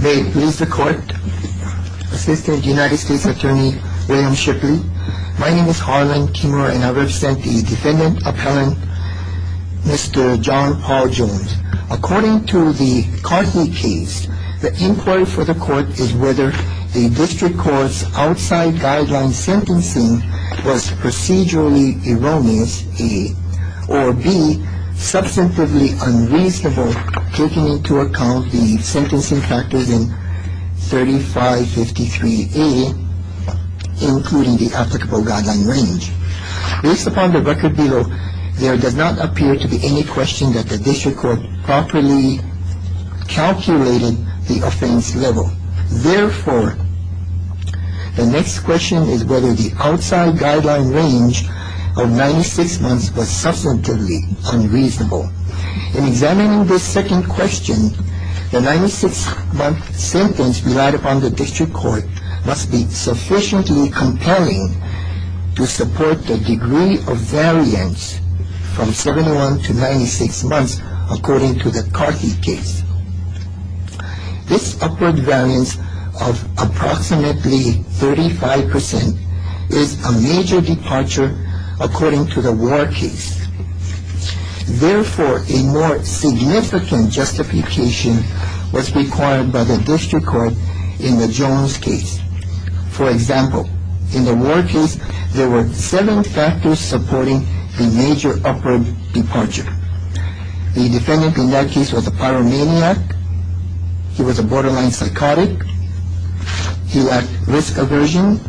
May it please the court, Assistant United States Attorney William Shipley. My name is Harlan Timur and I represent the defendant appellant Mr. John Paul Jones. According to the Cartney case, the inquiry for the court is whether the district court's outside guideline sentencing was procedurally erroneous, or b, substantively unreasonable, taking into account the sentencing factors in 3553A, including the applicable guideline range. Based upon the record below, there does not appear to be any question that the district court properly calculated the offense level. Therefore, the next question is whether the outside guideline range of 96 months was substantively unreasonable. In examining this second question, the 96-month sentence relied upon the district court must be sufficiently compelling to support the degree of variance from 71 to 96 months, according to the Cartney case. This upward variance of approximately 35% is a major departure according to the Ward case. Therefore, a more significant justification was required by the district court in the Jones case. For example, in the Ward case, there were seven factors supporting the major upward departure. The defendant in that case was a pyromaniac, he was a borderline psychotic, he had risk aversion,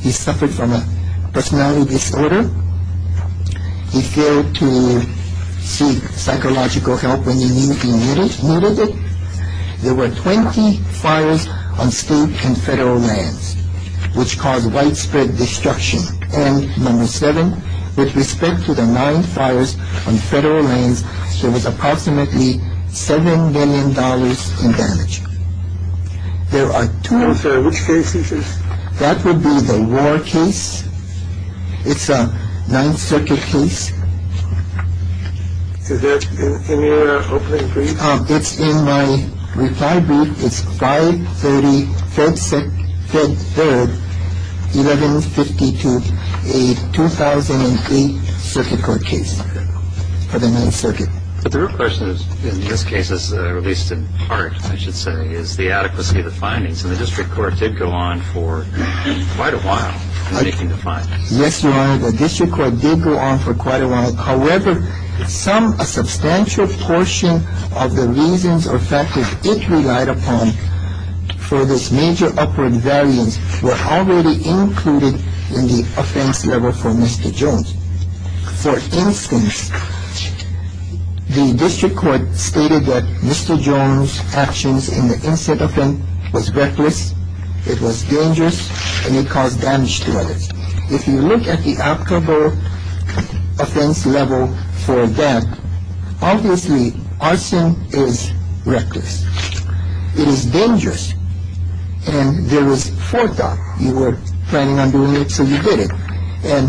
he suffered from a personality disorder, he failed to seek psychological help when he knew he needed it. There were 20 fires on state and federal lands, which caused widespread destruction. And number seven, with respect to the nine fires on federal lands, there was approximately $7 million in damage. There are two... I'm sorry, which case is this? That would be the Ward case. It's a Ninth Circuit case. Is that in your opening brief? It's in my reply brief. It's 530 Fed Third, 1152, a 2003 Circuit Court case for the Ninth Circuit. But the real question in this case is, at least in part, I should say, is the adequacy of the findings. And the district court did go on for quite a while making the findings. Yes, Your Honor. The district court did go on for quite a while. However, some, a substantial portion of the reasons or factors it relied upon for this major upward variance were already included in the offense level for Mr. Jones. For instance, the district court stated that Mr. Jones' actions in the incident was reckless, it was dangerous, and it caused damage to others. If you look at the applicable offense level for that, obviously arson is reckless. It is dangerous. And there was forethought. You were planning on doing it, so you did it. And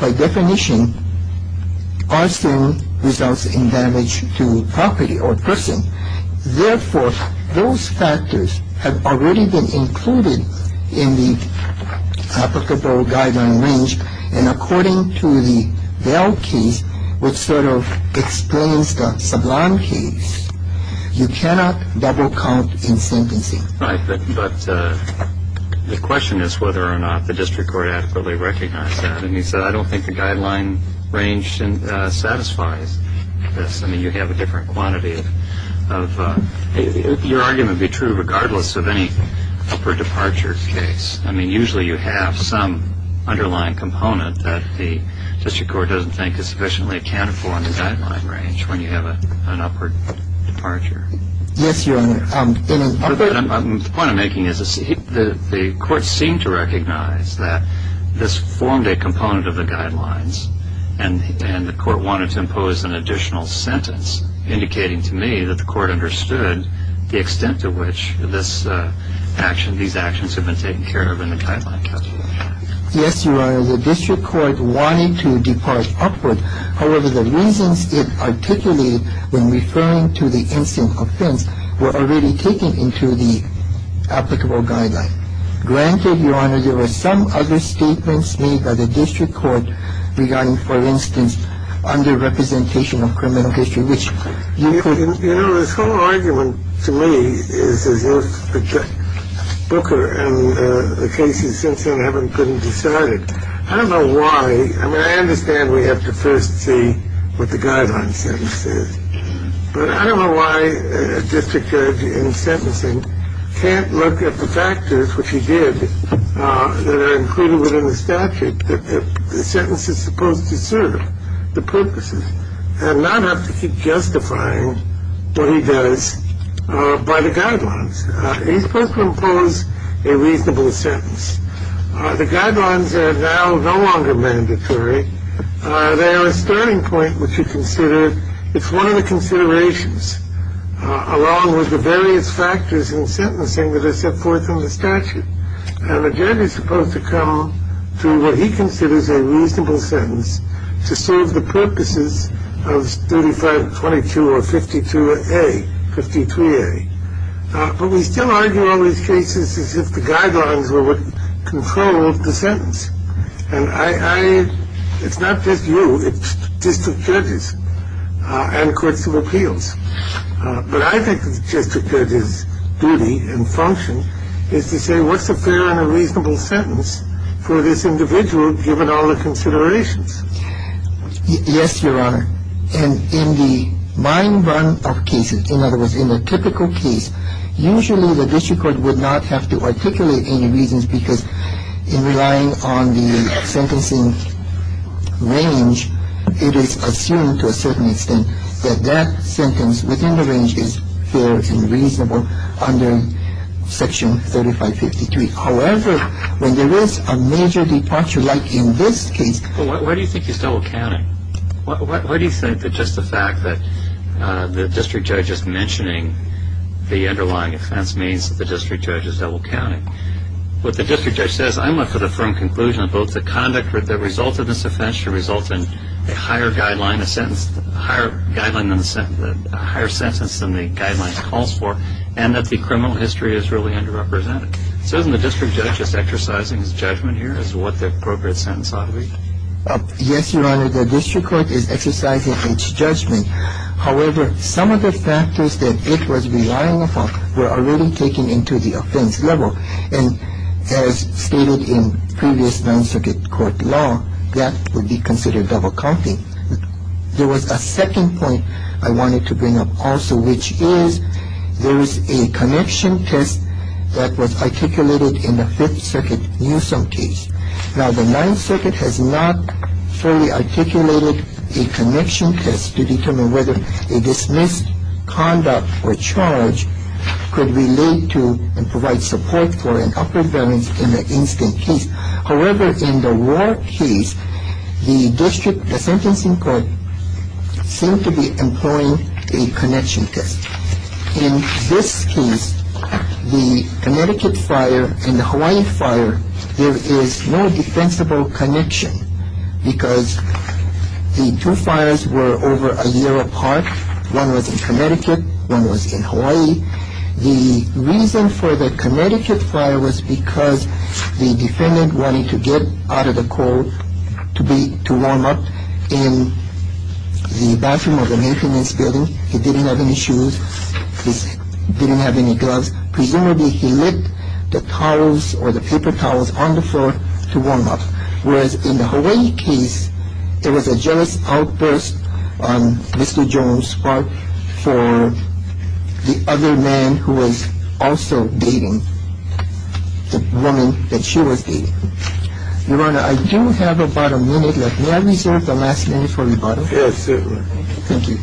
by definition, arson results in damage to property or person. Therefore, those factors have already been included in the applicable guideline range. And according to the Vail case, which sort of explains the Sublime case, you cannot double count in sentencing. Right. But the question is whether or not the district court adequately recognized that. And he said, I don't think the guideline range satisfies this. I mean, you have a different quantity of – your argument would be true regardless of any upward departure case. I mean, usually you have some underlying component that the district court doesn't think is sufficiently accounted for in the guideline range when you have an upward departure. Yes, Your Honor. The point I'm making is the court seemed to recognize that this formed a component of the guidelines, and the court wanted to impose an additional sentence, indicating to me that the court understood the extent to which these actions have been taken care of in the guideline category. Yes, Your Honor. The district court wanted to depart upward. However, the reasons it articulated when referring to the incident offense were already taken into the applicable guideline. Granted, Your Honor, there were some other statements made by the district court regarding, for instance, underrepresentation of criminal history, which you could – You know, this whole argument to me is as if Booker and the cases since then haven't been decided. I don't know why – I mean, I understand we have to first see what the guideline sentence is. But I don't know why a district judge in sentencing can't look at the factors, which he did, that are included within the statute that the sentence is supposed to serve the purposes and not have to keep justifying what he does by the guidelines. He's supposed to impose a reasonable sentence. The guidelines are now no longer mandatory. They are a starting point, which you consider. It's one of the considerations, along with the various factors in sentencing that are set forth in the statute. And the judge is supposed to come to what he considers a reasonable sentence to serve the purposes of 3522 or 52A, 53A. But we still argue all these cases as if the guidelines were what controlled the sentence. And I – it's not just you. It's district judges and courts of appeals. But I think the district judge's duty and function is to say, what's a fair and a reasonable sentence for this individual given all the considerations? Yes, Your Honor. And in the mine run of cases, in other words, in a typical case, usually the district court would not have to articulate any reasons because in relying on the sentencing range, it is assumed to a certain extent that that sentence within the range is fair and reasonable under Section 3553. However, when there is a major departure, like in this case. Well, why do you think he's double counting? Why do you think that just the fact that the district judge is mentioning the underlying offense means that the district judge is double counting? What the district judge says, I'm left with a firm conclusion that both the conduct that resulted in this offense should result in a higher guideline, a sentence – a higher guideline than the sentence – a higher sentence than the guidelines calls for and that the criminal history is really underrepresented. So isn't the district judge just exercising his judgment here as to what the appropriate sentence ought to be? Yes, Your Honor. The district court is exercising its judgment. However, some of the factors that it was relying upon were already taken into the offense level and as stated in previous Ninth Circuit court law, that would be considered double counting. There was a second point I wanted to bring up also, which is there was a connection test that was articulated in the Fifth Circuit Newsome case. Now, the Ninth Circuit has not fully articulated a connection test to determine whether a dismissed conduct or charge could relate to and provide support for an upper variance in an instant case. However, in the War case, the district – the sentencing court seemed to be employing a connection test. In this case, the Connecticut fire and the Hawaii fire, there is no defensible connection because the two fires were over a year apart. One was in Connecticut, one was in Hawaii. The reason for the Connecticut fire was because the defendant wanted to get out of the cold to be – to warm up in the bathroom of the maintenance building. He didn't have any shoes. He didn't have any gloves. Presumably, he licked the towels or the paper towels on the floor to warm up. Whereas in the Hawaii case, there was a jealous outburst on Mr. Jones' part for the other man who was also dating the woman that she was dating. Your Honor, I do have about a minute left. May I reserve the last minute for rebuttal? Yes, certainly. Thank you.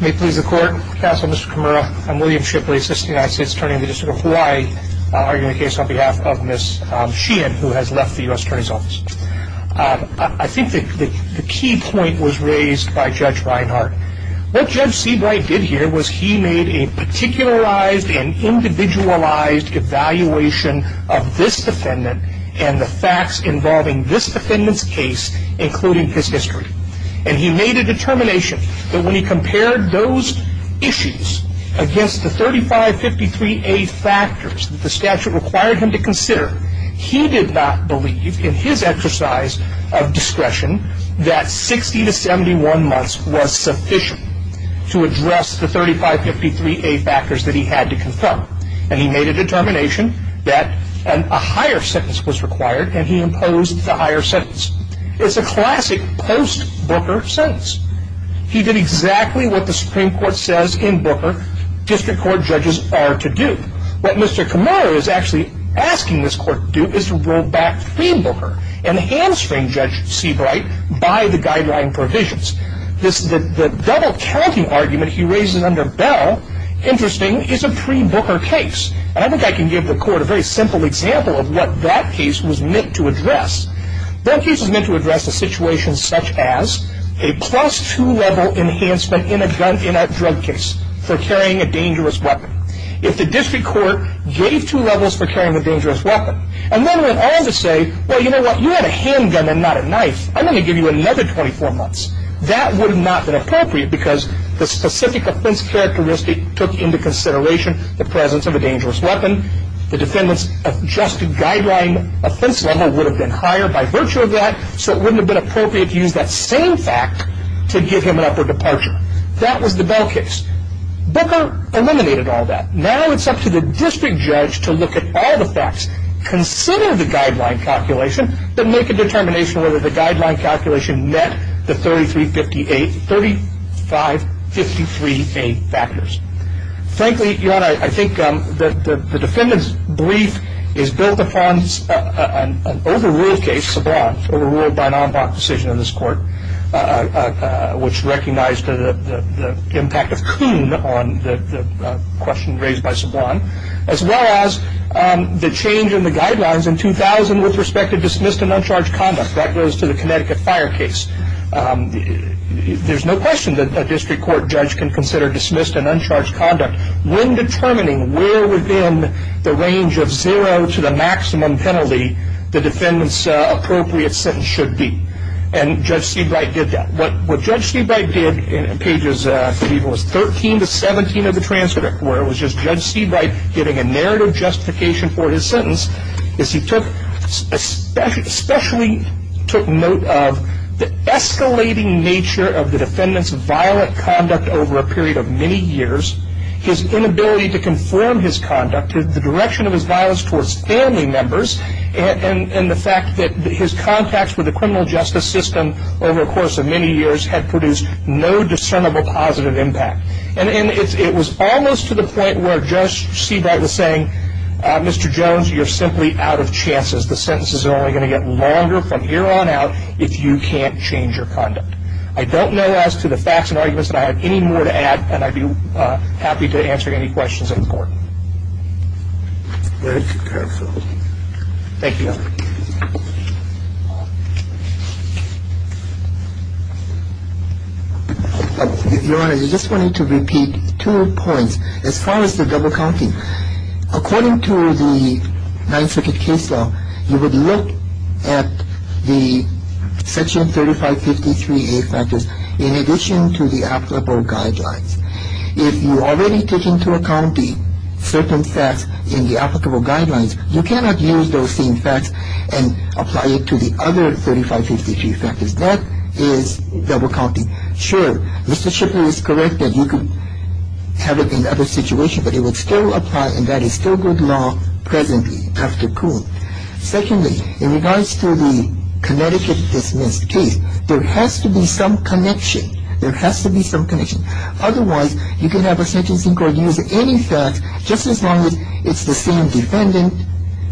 May it please the Court. Counsel, Mr. Kimura, I'm William Shipley, Assistant United States Attorney in the District of Hawaii, arguing the case on behalf of Ms. Sheehan, who has left the U.S. Attorney's Office. I think the key point was raised by Judge Reinhart. What Judge Seabright did here was he made a particularized and individualized evaluation of this defendant and the facts involving this defendant's case, including his history. And he made a determination that when he compared those issues against the 3553A factors that the statute required him to consider, he did not believe in his exercise of discretion that 60 to 71 months was sufficient to address the 3553A factors that he had to confront. And he made a determination that a higher sentence was required, and he imposed the higher sentence. It's a classic post-Booker sentence. He did exactly what the Supreme Court says in Booker district court judges are to do. What Mr. Kimura is actually asking this court to do is to go back to Booker and hamstring Judge Seabright by the guideline provisions. The double-counting argument he raises under Bell, interesting, is a pre-Booker case. And I think I can give the court a very simple example of what that case was meant to address. That case was meant to address a situation such as a plus-two-level enhancement in a drug case for carrying a dangerous weapon. If the district court gave two levels for carrying a dangerous weapon, and then went on to say, well, you know what, you had a handgun and not a knife. I'm going to give you another 24 months. That would not have been appropriate because the specific offense characteristic took into consideration the presence of a dangerous weapon. The defendant's adjusted guideline offense level would have been higher by virtue of that, so it wouldn't have been appropriate to use that same fact to give him an upper departure. That was the Bell case. Booker eliminated all that. Now it's up to the district judge to look at all the facts, consider the guideline calculation, but make a determination whether the guideline calculation met the 3353A factors. Frankly, your Honor, I think the defendant's brief is built upon an overruled case, Seabright, overruled by an en bloc decision in this court, which recognized the impact of Kuhn on the question raised by Seabright, as well as the change in the guidelines in 2000 with respect to dismissed and uncharged conduct. That goes to the Connecticut Fire case. There's no question that a district court judge can consider dismissed and uncharged conduct when determining where within the range of zero to the maximum penalty the defendant's appropriate sentence should be. And Judge Seabright did that. What Judge Seabright did in pages, I believe it was 13 to 17 of the transcript, where it was just Judge Seabright giving a narrative justification for his sentence, is he especially took note of the escalating nature of the defendant's violent conduct over a period of many years. His inability to conform his conduct to the direction of his violence towards family members and the fact that his contacts with the criminal justice system over a course of many years had produced no discernible positive impact. And it was almost to the point where Judge Seabright was saying, Mr. Jones, you're simply out of chances. The sentences are only going to get longer from here on out if you can't change your conduct. I don't know as to the facts and arguments that I have any more to add, and I'd be happy to answer any questions of the Court. Very careful. Thank you, Your Honor. Your Honor, I just wanted to repeat two points. As far as the double counting, according to the Ninth Circuit case law, you would look at the Section 3553A factors in addition to the applicable guidelines. If you already took into account the certain facts in the applicable guidelines, you cannot use those same facts and apply it to the other 3553 factors. That is double counting. Sure, Mr. Schiffer is correct that you could have it in other situations, but it would still apply and that is still good law presently after Coon. Secondly, in regards to the Connecticut Dismissed case, there has to be some connection. There has to be some connection. Otherwise, you can have a sentencing court use any facts just as long as it's the same defendant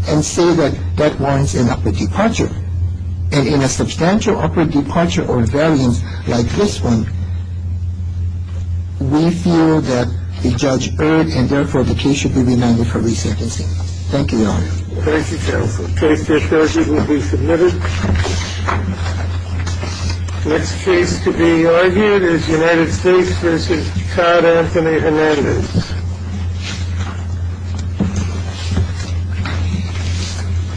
and say that that warrants an upward departure. And in a substantial upward departure or variance like this one, we feel that the judge earned and therefore the case should be remanded for re-sentencing. Thank you, Your Honor. Thank you, Counsel. Case 50 will be submitted. Next case to be argued is United States v. Todd Anthony Hernandez.